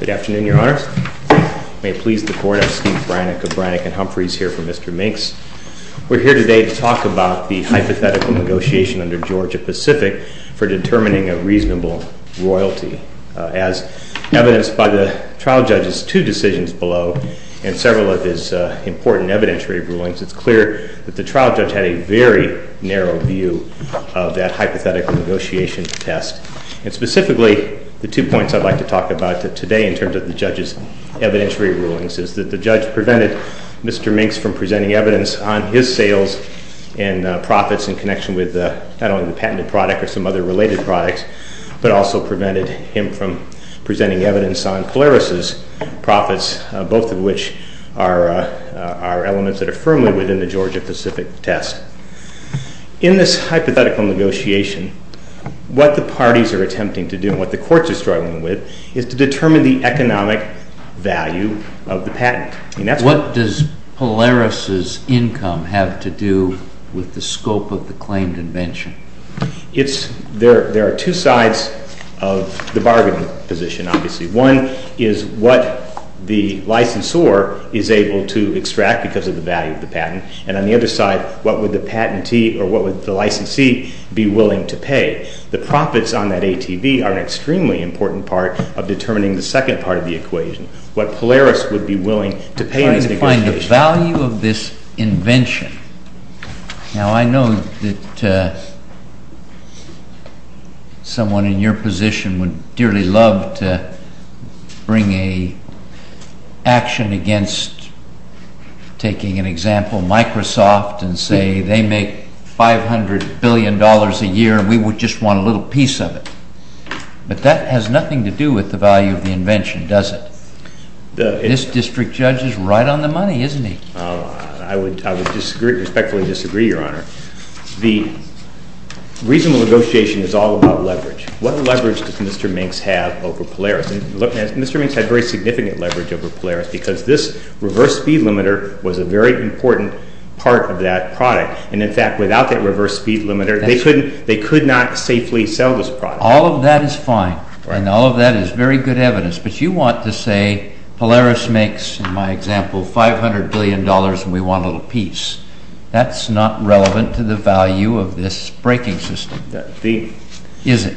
Good afternoon, Your Honors. May it please the Court, I'm Steve Brannock of Brannock & Humphreys here for Mr. MINKS. We're here today to talk about the hypothetical negotiation under Georgia-Pacific for determining a reasonable royalty. As evidenced by the trial judge's two decisions below and several of his important evidentiary rulings, it's clear that the trial judge had a very narrow view of that hypothetical negotiation test. And specifically, the two points I'd like to talk about today in terms of the judge's evidentiary rulings is that the judge prevented Mr. MINKS from presenting evidence on his sales and profits in connection with not only the patented product or some other related products, but also prevented him from presenting evidence on Polaris' profits, both of which are elements that are firmly within the Georgia-Pacific test. In this hypothetical negotiation, what the parties are attempting to do and what the courts are struggling with is to determine the economic value of the patent. What does Polaris' income have to do with the scope of the claimed invention? There are two sides of the bargaining position, obviously. One is what the licensor is able to extract because of the value of the patent. And on the other side, what would the patentee or what would the licensee be willing to pay? The profits on that ATV are an extremely important part of determining the second part of the equation, what Polaris would be willing to pay in this negotiation. To find the value of this invention. Now, I know that someone in your position would dearly love to bring an action against, taking an example, Microsoft and say they make $500 billion a year and we would just want a little piece of it. But that has nothing to do with the value of the invention, does it? This district judge is right on the money, isn't he? I would respectfully disagree, Your Honor. The reasonable negotiation is all about leverage. What leverage does Mr. Minx have over Polaris? Mr. Minx had very significant leverage over Polaris because this reverse speed limiter was a very important part of that product. And in fact, without that reverse speed limiter, they could not safely sell this product. All of that is fine. And all of that is very good evidence. But you want to say Polaris makes, in my example, $500 billion and we want a little piece. That's not relevant to the value of this breaking system, is it?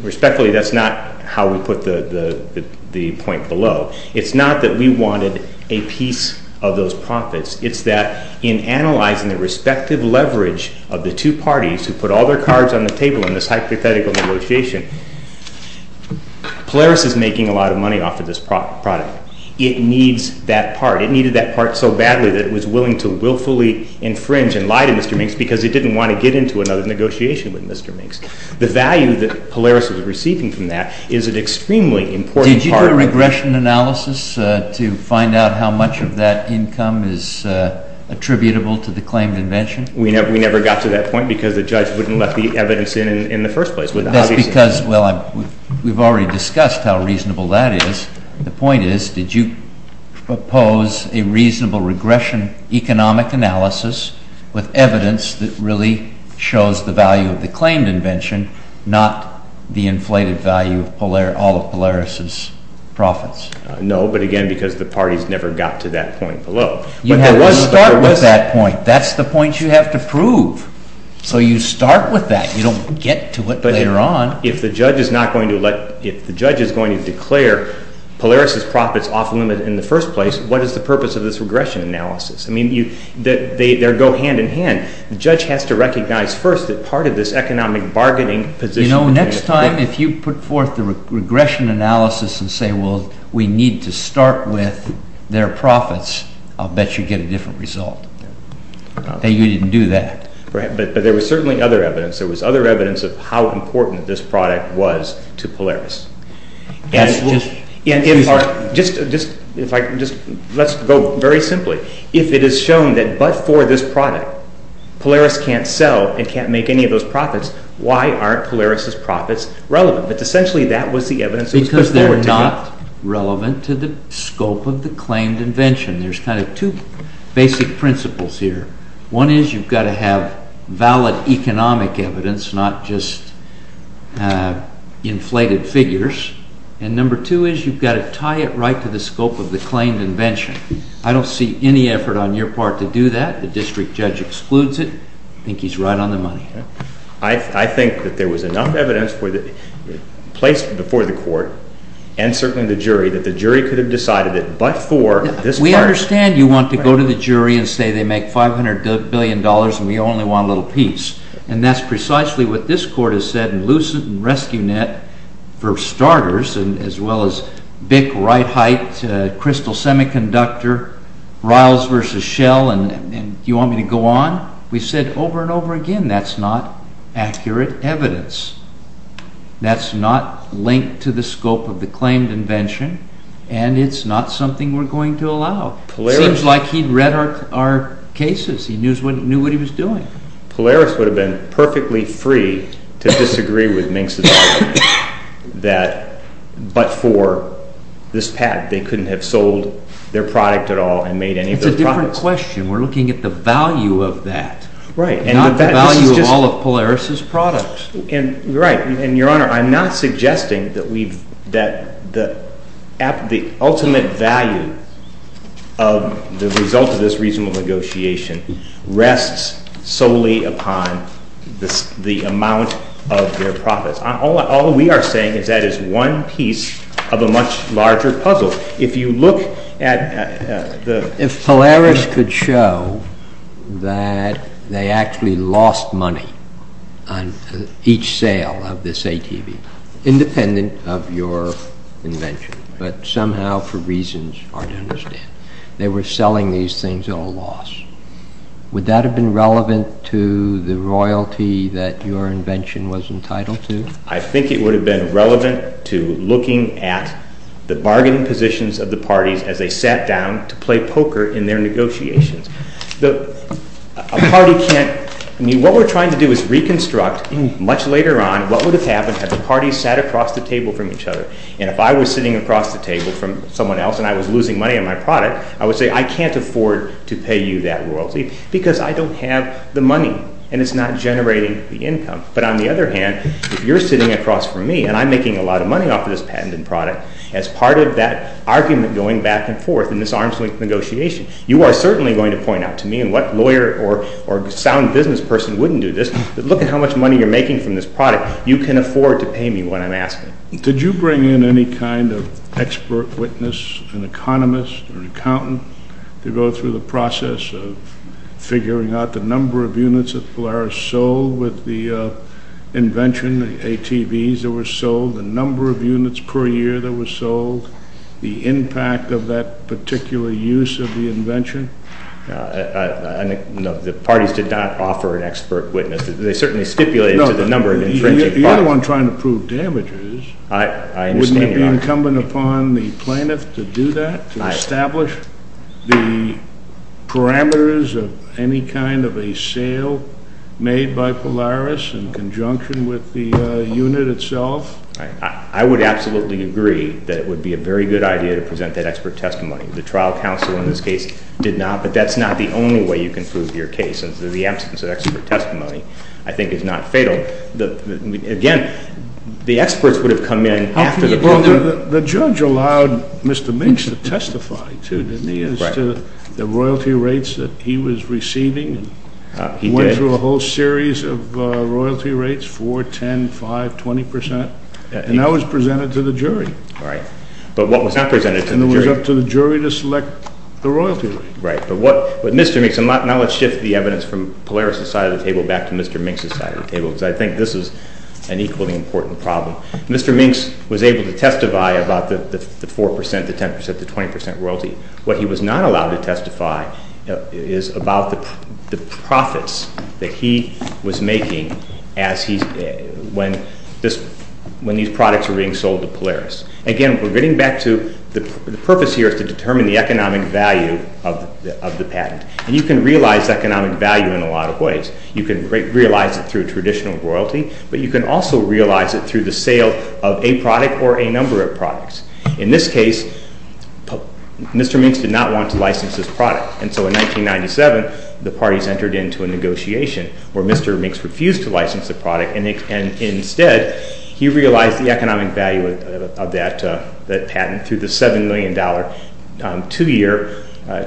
Respectfully, that's not how we put the point below. It's not that we wanted a piece of those profits. It's that in analyzing the respective leverage of the two parties who put all their cards on the table in this hypothetical negotiation, Polaris is making a lot of money off of this product. It needs that part. It needed that part so badly that it was willing to willfully infringe and lie to Mr. Minx because it didn't want to get into another negotiation with Mr. Minx. The value that Polaris is receiving from that is an extremely important part. Did you do a regression analysis to find out how much of that income is attributable to the claimed invention? We never got to that point because the judge wouldn't let the evidence in in the first place. That's because, well, we've already discussed how reasonable that is. The point is, did you propose a reasonable regression economic analysis with evidence that really shows the value of the claimed invention, not the inflated value of all of Polaris's profits? No, but again, because the parties never got to that point below. You have to start with that point. That's the point you have to prove. So you start with that. You don't get to it later on. If the judge is going to declare Polaris's profits off-limits in the first place, what is the purpose of this regression analysis? I mean, they go hand-in-hand. The judge has to recognize first that part of this economic bargaining position— You know, next time if you put forth the regression analysis and say, well, we need to start with their profits, I'll bet you get a different result. You didn't do that. Right, but there was certainly other evidence. There was evidence of how important this product was to Polaris. Let's go very simply. If it is shown that but for this product, Polaris can't sell and can't make any of those profits, why aren't Polaris's profits relevant? But essentially that was the evidence that was put forward to me. Because they're not relevant to the scope of the claimed invention. There's kind of two basic principles here. One is you've got to have valid economic evidence, not just inflated figures. And number two is you've got to tie it right to the scope of the claimed invention. I don't see any effort on your part to do that. The district judge excludes it. I think he's right on the money. I think that there was enough evidence placed before the court and certainly the jury that the jury could have decided that but for this product— and we only want a little piece. And that's precisely what this court has said in Lucent and Rescue Net, for starters, as well as Bick, Wright-Hite, Crystal Semiconductor, Riles v. Shell, and you want me to go on? We've said over and over again that's not accurate evidence. That's not linked to the scope of the claimed invention and it's not something we're going to allow. It seems like he'd read our cases. He knew what he was doing. Polaris would have been perfectly free to disagree with Minx's argument that but for this pad they couldn't have sold their product at all and made any of those products. It's a different question. We're looking at the value of that, not the value of all of Polaris's products. Right. And, Your Honor, I'm not suggesting that the ultimate value of the result of this reasonable negotiation rests solely upon the amount of their profits. All we are saying is that is one piece of a much larger puzzle. If you look at the— that they actually lost money on each sale of this ATV, independent of your invention, but somehow for reasons hard to understand. They were selling these things at a loss. Would that have been relevant to the royalty that your invention was entitled to? I think it would have been relevant to looking at the bargaining positions of the parties as they sat down to play poker in their negotiations. A party can't—I mean, what we're trying to do is reconstruct much later on what would have happened had the parties sat across the table from each other. And if I was sitting across the table from someone else and I was losing money on my product, I would say I can't afford to pay you that royalty because I don't have the money and it's not generating the income. But on the other hand, if you're sitting across from me and I'm making a lot of money off of this patent and product, as part of that argument going back and forth in this arm's-length negotiation, you are certainly going to point out to me, and what lawyer or sound business person wouldn't do this, that look at how much money you're making from this product. You can afford to pay me what I'm asking. Did you bring in any kind of expert witness, an economist or accountant, to go through the process of figuring out the number of units that Polaris sold with the invention, the ATVs that were sold, the number of units per year that were sold, the impact of that particular use of the invention? No, the parties did not offer an expert witness. They certainly stipulated to the number of intrinsic— The other one trying to prove damages— I understand your argument. —wouldn't it be incumbent upon the plaintiff to do that, to establish the parameters of any kind of a sale made by Polaris in conjunction with the unit itself? I would absolutely agree that it would be a very good idea to present that expert testimony. The trial counsel in this case did not, but that's not the only way you can prove your case, and so the absence of expert testimony I think is not fatal. Again, the experts would have come in after the— Well, the judge allowed Mr. Minx to testify, too, didn't he, as to the royalty rates that he was receiving. He did. He went through a whole series of royalty rates, 4, 10, 5, 20 percent, and that was presented to the jury. Right, but what was not presented to the jury— And it was up to the jury to select the royalty rate. Right, but what Mr. Minx—and now let's shift the evidence from Polaris' side of the table back to Mr. Minx's side of the table, because I think this is an equally important problem. Mr. Minx was able to testify about the 4 percent, the 10 percent, the 20 percent royalty. What he was not allowed to testify is about the profits that he was making when these products were being sold to Polaris. Again, we're getting back to the purpose here is to determine the economic value of the patent, and you can realize economic value in a lot of ways. You can realize it through traditional royalty, but you can also realize it through the sale of a product or a number of products. In this case, Mr. Minx did not want to license this product, and so in 1997, the parties entered into a negotiation where Mr. Minx refused to license the product, and instead, he realized the economic value of that patent through the $7 million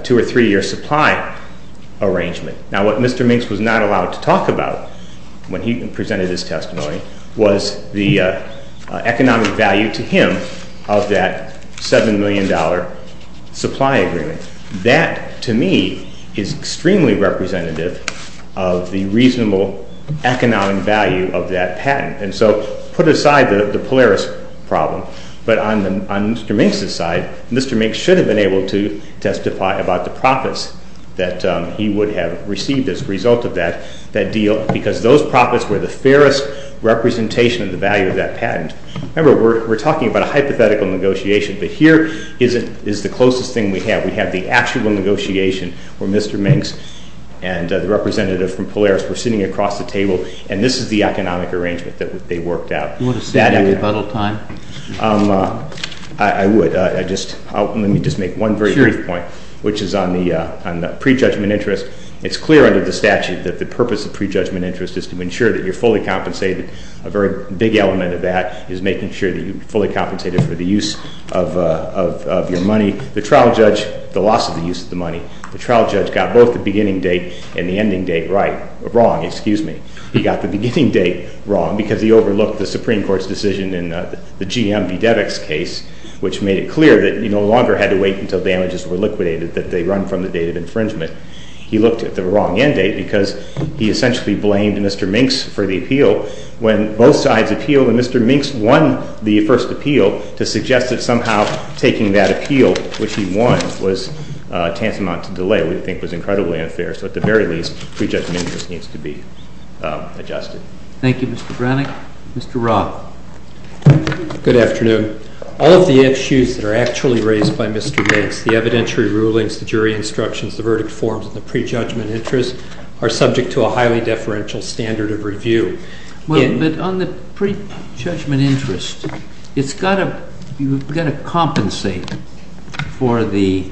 two- or three-year supply arrangement. Now, what Mr. Minx was not allowed to talk about when he presented his testimony was the economic value to him of that $7 million supply agreement. That, to me, is extremely representative of the reasonable economic value of that patent, and so put aside the Polaris problem, but on Mr. Minx's side, Mr. Minx should have been able to testify about the profits that he would have received as a result of that deal because those profits were the fairest representation of the value of that patent. Remember, we're talking about a hypothetical negotiation, but here is the closest thing we have. We have the actual negotiation where Mr. Minx and the representative from Polaris were sitting across the table, and this is the economic arrangement that they worked out. Do you want to save me a little time? I would. Let me just make one very brief point, which is on the prejudgment interest. It's clear under the statute that the purpose of prejudgment interest is to ensure that you're fully compensated, and a very big element of that is making sure that you're fully compensated for the use of your money. The trial judge, the loss of the use of the money, the trial judge got both the beginning date and the ending date right, wrong, excuse me. He got the beginning date wrong because he overlooked the Supreme Court's decision in the GM v. Devick's case, which made it clear that you no longer had to wait until damages were liquidated, that they run from the date of infringement. He looked at the wrong end date because he essentially blamed Mr. Minx for the appeal when both sides appealed, and Mr. Minx won the first appeal to suggest that somehow taking that appeal, which he won, was tantamount to delay, which we think was incredibly unfair. So at the very least, prejudgment interest needs to be adjusted. Thank you, Mr. Brannick. Mr. Roth. Good afternoon. All of the issues that are actually raised by Mr. Minx, the evidentiary rulings, the jury instructions, the verdict forms, and the prejudgment interest are subject to a highly deferential standard of review. But on the prejudgment interest, you've got to compensate for the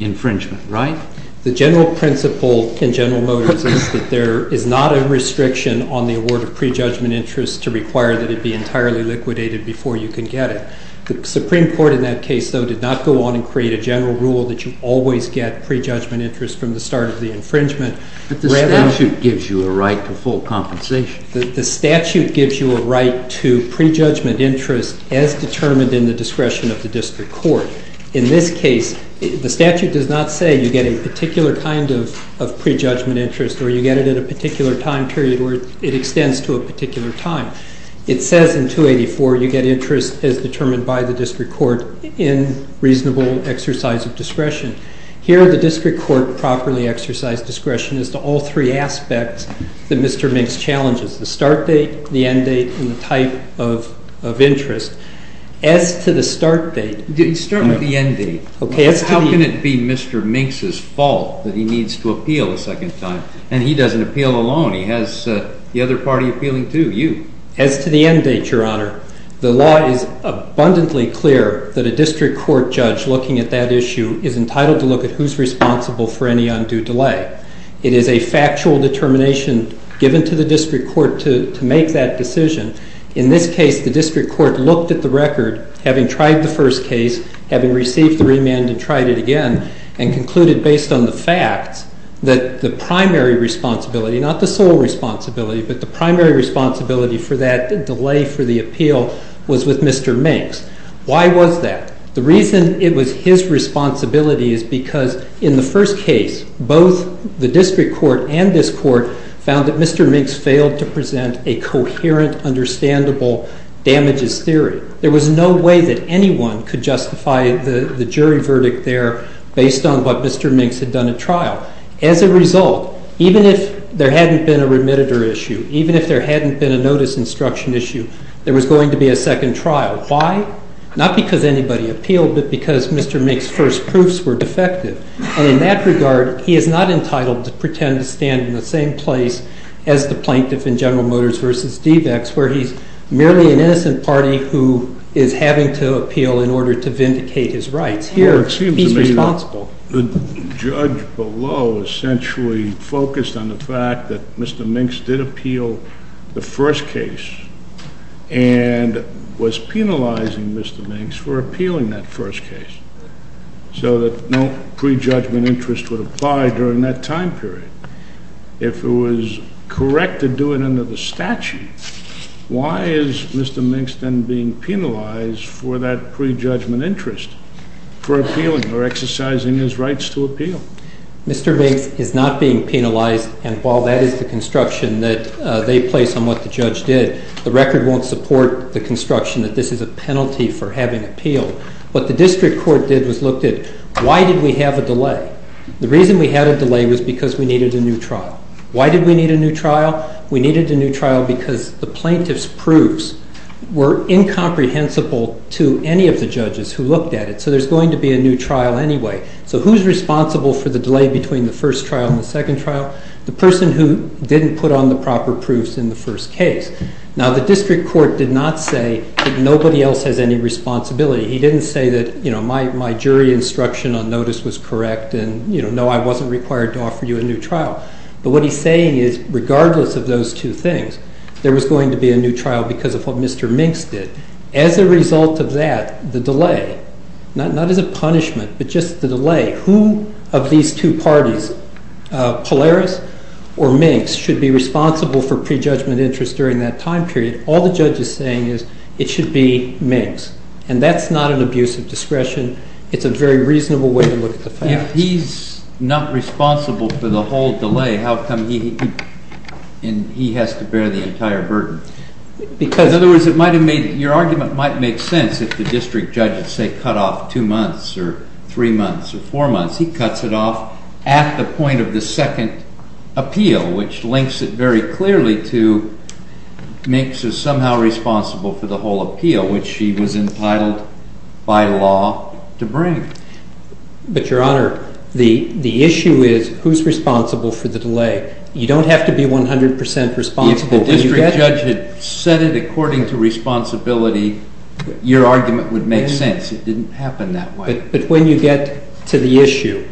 infringement, right? The general principle in General Motors is that there is not a restriction on the award of prejudgment interest to require that it be entirely liquidated before you can get it. The Supreme Court in that case, though, did not go on and create a general rule that you always get prejudgment interest from the start of the infringement. But the statute gives you a right to full compensation. The statute gives you a right to prejudgment interest as determined in the discretion of the district court. In this case, the statute does not say you get a particular kind of prejudgment interest or you get it at a particular time period or it extends to a particular time. It says in 284 you get interest as determined by the district court in reasonable exercise of discretion. Here, the district court properly exercised discretion as to all three aspects that Mr. Minx challenges, the start date, the end date, and the type of interest. As to the start date. You start with the end date. Okay. How can it be Mr. Minx's fault that he needs to appeal a second time? And he doesn't appeal alone. He has the other party appealing, too, you. As to the end date, Your Honor, the law is abundantly clear that a district court judge looking at that issue is entitled to look at who's responsible for any undue delay. It is a factual determination given to the district court to make that decision. In this case, the district court looked at the record, having tried the first case, having received the remand and tried it again, and concluded based on the facts that the primary responsibility, not the sole responsibility, but the primary responsibility for that delay for the appeal was with Mr. Minx. Why was that? The reason it was his responsibility is because in the first case, both the district court and this court found that Mr. Minx failed to present a coherent, understandable damages theory. There was no way that anyone could justify the jury verdict there based on what Mr. Minx had done at trial. As a result, even if there hadn't been a remitter issue, even if there hadn't been a notice instruction issue, there was going to be a second trial. Why? Not because anybody appealed, but because Mr. Minx's first proofs were defective. And in that regard, he is not entitled to pretend to stand in the same place as the plaintiff in General Motors v. Devex, where he's merely an innocent party who is having to appeal in order to vindicate his rights. Here, he's responsible. Well, it seems to me that the judge below essentially focused on the fact that Mr. Minx did appeal the first case and was penalizing Mr. Minx for appealing that first case, so that no prejudgment interest would apply during that time period. If it was correct to do it under the statute, why is Mr. Minx then being penalized for that prejudgment interest for appealing or exercising his rights to appeal? Mr. Minx is not being penalized, and while that is the construction that they place on what the judge did, the record won't support the construction that this is a penalty for having appealed. What the district court did was looked at, why did we have a delay? The reason we had a delay was because we needed a new trial. Why did we need a new trial? We needed a new trial because the plaintiff's proofs were incomprehensible to any of the judges who looked at it, so there's going to be a new trial anyway. So who's responsible for the delay between the first trial and the second trial? The person who didn't put on the proper proofs in the first case. Now, the district court did not say that nobody else has any responsibility. He didn't say that, you know, my jury instruction on notice was correct and, you know, no, I wasn't required to offer you a new trial. But what he's saying is, regardless of those two things, there was going to be a new trial because of what Mr. Minx did. As a result of that, the delay, not as a punishment, but just the delay, who of these two parties, Polaris or Minx, should be responsible for prejudgment interest during that time period? All the judge is saying is it should be Minx. And that's not an abuse of discretion. It's a very reasonable way to look at the facts. If he's not responsible for the whole delay, how come he has to bear the entire burden? Because— In other words, it might have made—your argument might make sense if the district judge had, say, cut off two months or three months or four months. He cuts it off at the point of the second appeal, which links it very clearly to Minx is somehow responsible for the whole appeal, which she was entitled by law to bring. But, Your Honor, the issue is who's responsible for the delay. You don't have to be 100 percent responsible. If the district judge had said it according to responsibility, your argument would make sense. It didn't happen that way. But when you get to the issue,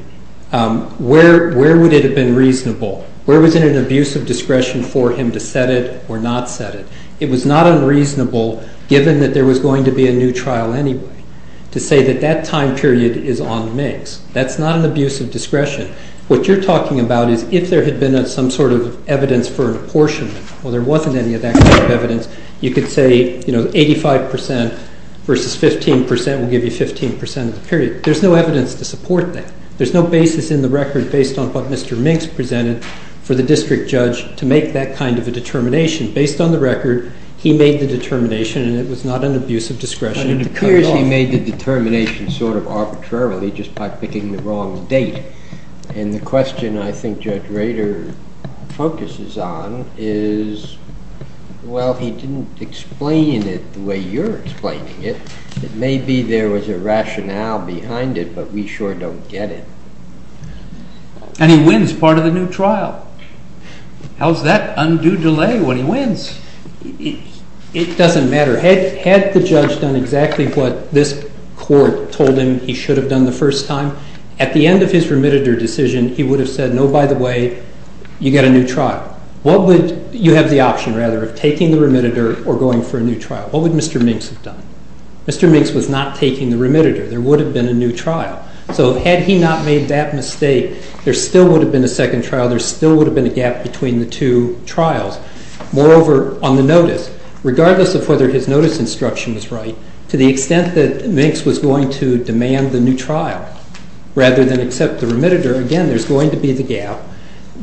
where would it have been reasonable? Where was it an abuse of discretion for him to set it or not set it? It was not unreasonable, given that there was going to be a new trial anyway, to say that that time period is on Minx. That's not an abuse of discretion. What you're talking about is if there had been some sort of evidence for an apportionment—well, there wasn't any of that kind of evidence. You could say, you know, 85 percent versus 15 percent will give you 15 percent of the period. There's no evidence to support that. There's no basis in the record based on what Mr. Minx presented for the district judge to make that kind of a determination. Based on the record, he made the determination, and it was not an abuse of discretion to cut it off. It appears he made the determination sort of arbitrarily just by picking the wrong date. And the question I think Judge Rader focuses on is, well, he didn't explain it the way you're explaining it. It may be there was a rationale behind it, but we sure don't get it. And he wins part of the new trial. How's that undue delay when he wins? It doesn't matter. Had the judge done exactly what this court told him he should have done the first time, at the end of his remitter decision, he would have said, no, by the way, you get a new trial. What would—you have the option, rather, of taking the remitter or going for a new trial. What would Mr. Minx have done? Mr. Minx was not taking the remitter. There would have been a new trial. So had he not made that mistake, there still would have been a second trial. There still would have been a gap between the two trials. Moreover, on the notice, regardless of whether his notice instruction was right, to the extent that Minx was going to demand the new trial rather than accept the remitter, again, there's going to be the gap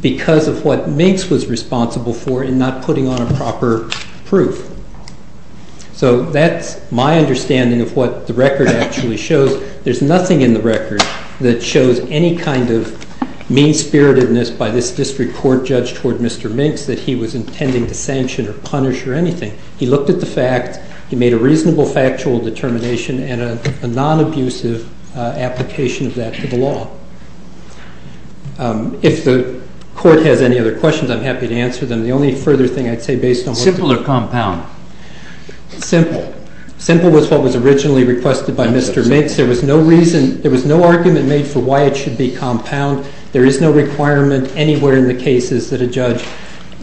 because of what Minx was responsible for in not putting on a proper proof. So that's my understanding of what the record actually shows. There's nothing in the record that shows any kind of mean-spiritedness by this district court judge toward Mr. Minx that he was intending to sanction or punish or anything. He looked at the facts. He made a reasonable factual determination and a non-abusive application of that to the law. If the Court has any other questions, I'm happy to answer them. The only further thing I'd say based on what the— Simple or compound? Simple. Simple was what was originally requested by Mr. Minx. There was no reason—there was no argument made for why it should be compound. There is no requirement anywhere in the cases that a judge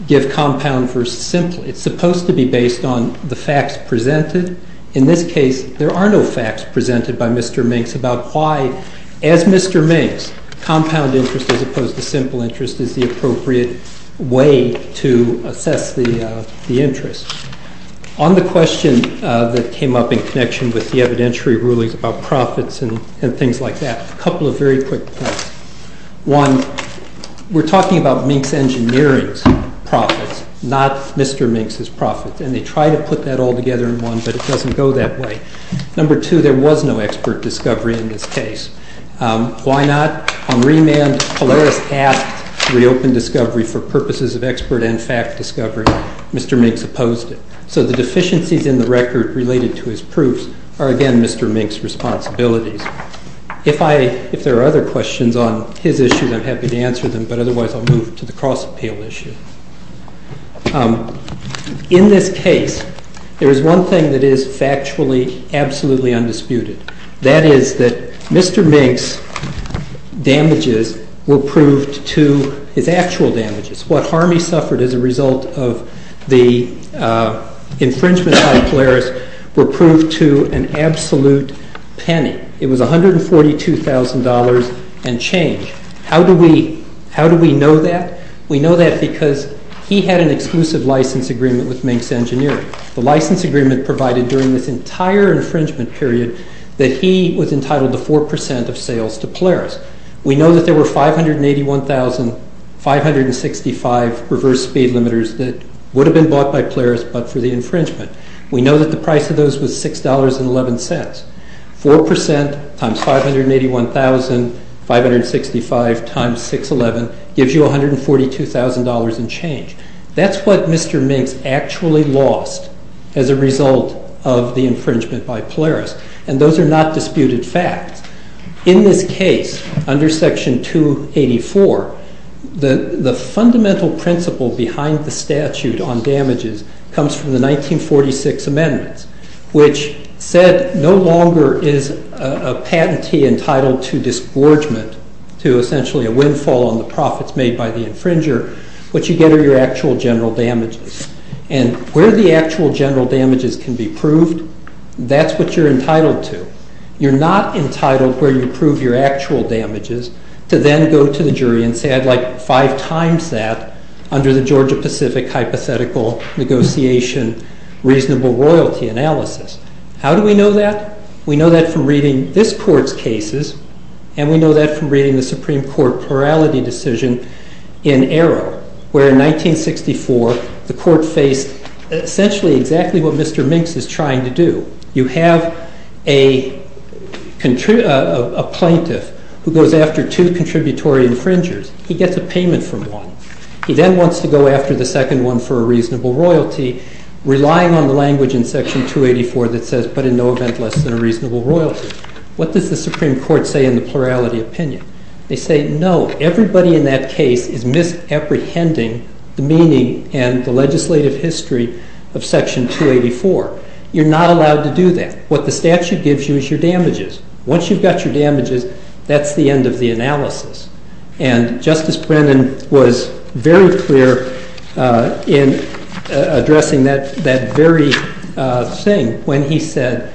give compound versus simple. It's supposed to be based on the facts presented. In this case, there are no facts presented by Mr. Minx about why, as Mr. Minx, compound interest as opposed to simple interest is the appropriate way to assess the interest. On the question that came up in connection with the evidentiary rulings about profits and things like that, a couple of very quick points. One, we're talking about Minx Engineering's profits, not Mr. Minx's profits, and they try to put that all together in one, but it doesn't go that way. Number two, there was no expert discovery in this case. Why not? On remand, Polaris asked to reopen discovery for purposes of expert and fact discovery. Mr. Minx opposed it. So the deficiencies in the record related to his proofs are, again, Mr. Minx's responsibilities. If there are other questions on his issues, I'm happy to answer them, but otherwise I'll move to the cross-appeal issue. In this case, there is one thing that is factually absolutely undisputed. That is that Mr. Minx's damages were proved to his actual damages. What harm he suffered as a result of the infringement on Polaris were proved to an absolute penny. It was $142,000 and change. How do we know that? We know that because he had an exclusive license agreement with Minx Engineering. The license agreement provided during this entire infringement period that he was entitled to 4% of sales to Polaris. We know that there were 581,565 reverse speed limiters that would have been bought by Polaris but for the infringement. We know that the price of those was $6.11. 4% times 581,565 times $6.11 gives you $142,000 and change. That's what Mr. Minx actually lost as a result of the infringement by Polaris, and those are not disputed facts. In this case, under Section 284, the fundamental principle behind the statute on damages comes from the 1946 amendments, which said no longer is a patentee entitled to disgorgement, to essentially a windfall on the profits made by the infringer, what you get are your actual general damages. And where the actual general damages can be proved, that's what you're entitled to. You're not entitled where you prove your actual damages to then go to the jury and say, I'd like five times that under the Georgia-Pacific hypothetical negotiation reasonable royalty analysis. How do we know that? We know that from reading this court's cases, and we know that from reading the Supreme Court plurality decision in Arrow, where in 1964 the court faced essentially exactly what Mr. Minx is trying to do. You have a plaintiff who goes after two contributory infringers. He gets a payment from one. He then wants to go after the second one for a reasonable royalty, relying on the language in Section 284 that says, but in no event less than a reasonable royalty. What does the Supreme Court say in the plurality opinion? They say, no, everybody in that case is misapprehending the meaning and the legislative history of Section 284. You're not allowed to do that. What the statute gives you is your damages. Once you've got your damages, that's the end of the analysis. And Justice Brennan was very clear in addressing that very thing when he said,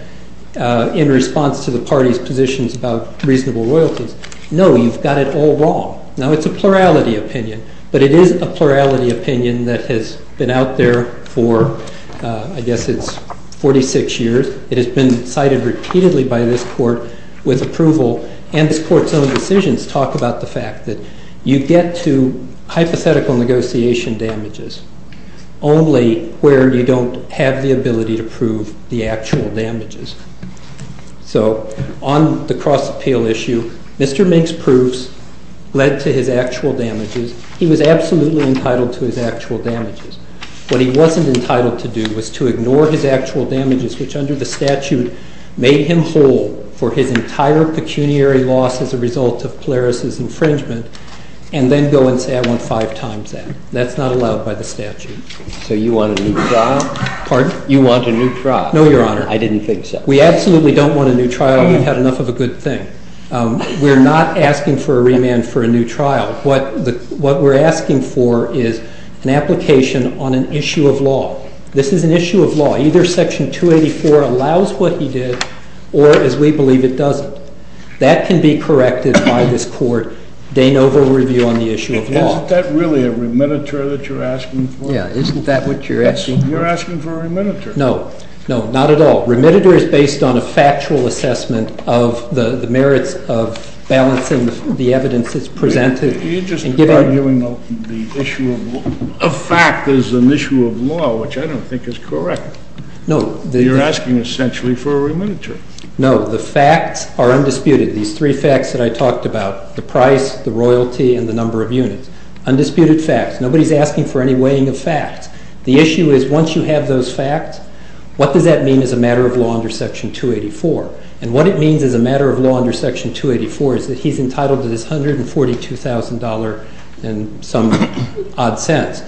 in response to the party's positions about reasonable royalties, no, you've got it all wrong. Now, it's a plurality opinion, but it is a plurality opinion that has been out there for, I guess it's 46 years. It has been cited repeatedly by this Court with approval, and this Court's own decisions talk about the fact that you get to hypothetical negotiation damages only where you don't have the ability to prove the actual damages. So on the cross-appeal issue, Mr. Minx's proofs led to his actual damages. He was absolutely entitled to his actual damages. What he wasn't entitled to do was to ignore his actual damages, which under the statute made him whole for his entire pecuniary loss as a result of Polaris' infringement, and then go and say, I want five times that. That's not allowed by the statute. So you want a new trial? Pardon? You want a new trial? No, Your Honor. I didn't think so. We absolutely don't want a new trial. We've had enough of a good thing. We're not asking for a remand for a new trial. What we're asking for is an application on an issue of law. This is an issue of law. Either Section 284 allows what he did or, as we believe, it doesn't. That can be corrected by this Court's de novo review on the issue of law. Isn't that really a remand that you're asking for? Yeah. Isn't that what you're asking for? You're asking for a remand. No. No, not at all. A remand is based on a factual assessment of the merits of balancing the evidence that's presented. You're just arguing the issue of fact as an issue of law, which I don't think is correct. No. You're asking essentially for a remand. No. The facts are undisputed. These three facts that I talked about, the price, the royalty, and the number of units, undisputed facts. Nobody's asking for any weighing of facts. The issue is, once you have those facts, what does that mean as a matter of law under Section 284? And what it means as a matter of law under Section 284 is that he's entitled to this $142,000 and some odd cents.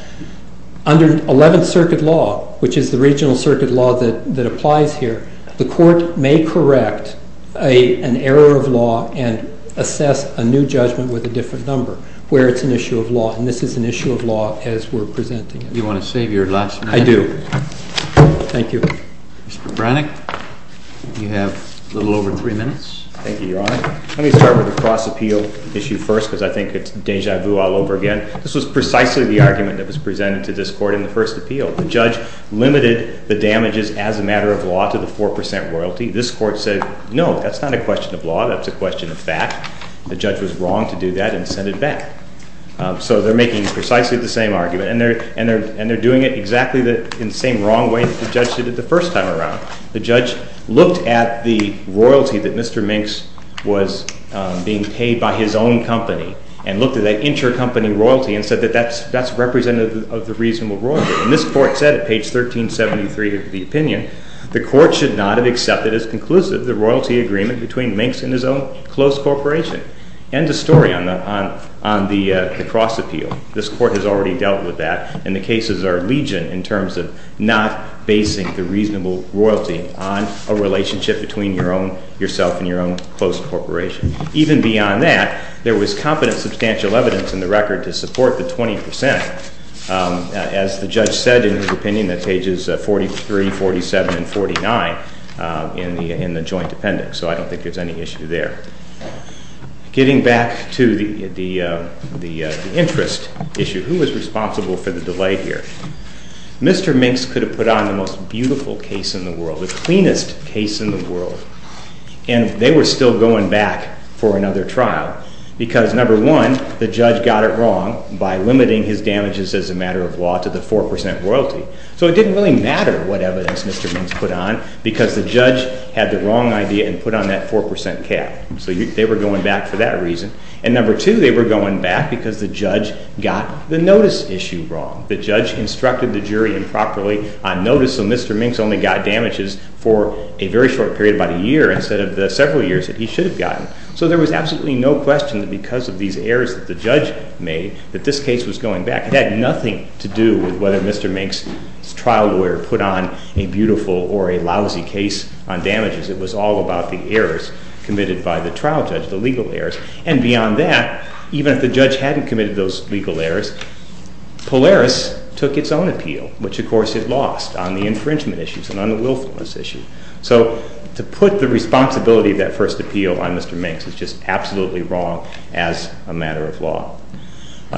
Under Eleventh Circuit law, which is the regional circuit law that applies here, the Court may correct an error of law and assess a new judgment with a different number where it's an issue of law. And this is an issue of law as we're presenting it. Do you want to save your last minute? I do. Thank you. Mr. Brannick, you have a little over three minutes. Thank you, Your Honor. Let me start with the cross-appeal issue first because I think it's deja vu all over again. This was precisely the argument that was presented to this Court in the first appeal. The judge limited the damages as a matter of law to the 4 percent royalty. This Court said, no, that's not a question of law. That's a question of fact. The judge was wrong to do that and send it back. So they're making precisely the same argument. And they're doing it exactly in the same wrong way that the judge did it the first time around. The judge looked at the royalty that Mr. Minx was being paid by his own company and looked at that intercompany royalty and said that that's representative of the reasonable royalty. And this Court said at page 1373 of the opinion, the Court should not have accepted as conclusive the royalty agreement between Minx and his own closed corporation. End of story on the cross-appeal. This Court has already dealt with that, and the cases are legion in terms of not basing the reasonable royalty on a relationship between yourself and your own closed corporation. Even beyond that, there was competent substantial evidence in the record to support the 20 percent. As the judge said in his opinion, that's pages 43, 47, and 49 in the joint appendix. So I don't think there's any issue there. Getting back to the interest issue. Who was responsible for the delay here? Mr. Minx could have put on the most beautiful case in the world, the cleanest case in the world, and they were still going back for another trial because, number one, the judge got it wrong by limiting his damages as a matter of law to the 4 percent royalty. So it didn't really matter what evidence Mr. Minx put on because the judge had the wrong idea and put on that 4 percent cap. So they were going back for that reason. And number two, they were going back because the judge got the notice issue wrong. The judge instructed the jury improperly on notice, so Mr. Minx only got damages for a very short period, about a year, instead of the several years that he should have gotten. So there was absolutely no question that because of these errors that the judge made that this case was going back. It had nothing to do with whether Mr. Minx's trial lawyer put on a beautiful or a lousy case on damages. It was all about the errors committed by the trial judge, the legal errors. And beyond that, even if the judge hadn't committed those legal errors, Polaris took its own appeal, which of course it lost on the infringement issues and on the willfulness issue. So to put the responsibility of that first appeal on Mr. Minx is just absolutely wrong as a matter of law.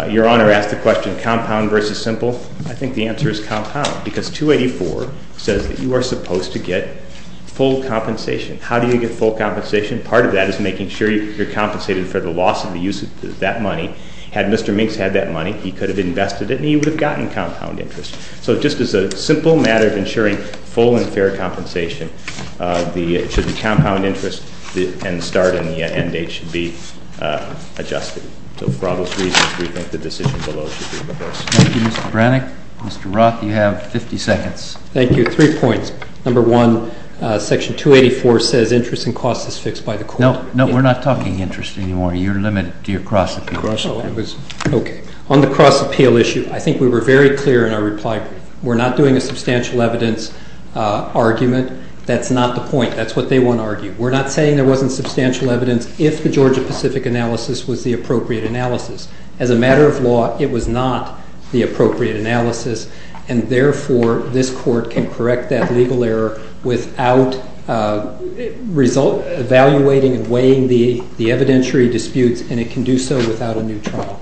Your Honor asked the question, compound versus simple. I think the answer is compound because 284 says that you are supposed to get full compensation. How do you get full compensation? Part of that is making sure you're compensated for the loss of the use of that money. Had Mr. Minx had that money, he could have invested it and he would have gotten compound interest. So just as a simple matter of ensuring full and fair compensation, the compound interest and the start and the end date should be adjusted. So for all those reasons, we think the decision below should be reversed. Thank you, Mr. Brannick. Mr. Roth, you have 50 seconds. Thank you. Three points. Number one, Section 284 says interest and cost is fixed by the court. No, we're not talking interest anymore. You're limited to your cross appeal. Okay. On the cross appeal issue, I think we were very clear in our reply brief. We're not doing a substantial evidence argument. That's not the point. That's what they want to argue. We're not saying there wasn't substantial evidence if the Georgia-Pacific analysis was the appropriate analysis. As a matter of law, it was not the appropriate analysis, and therefore this court can correct that legal error without evaluating and weighing the evidentiary disputes, and it can do so without a new trial.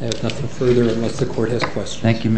I have nothing further unless the court has questions. Thank you.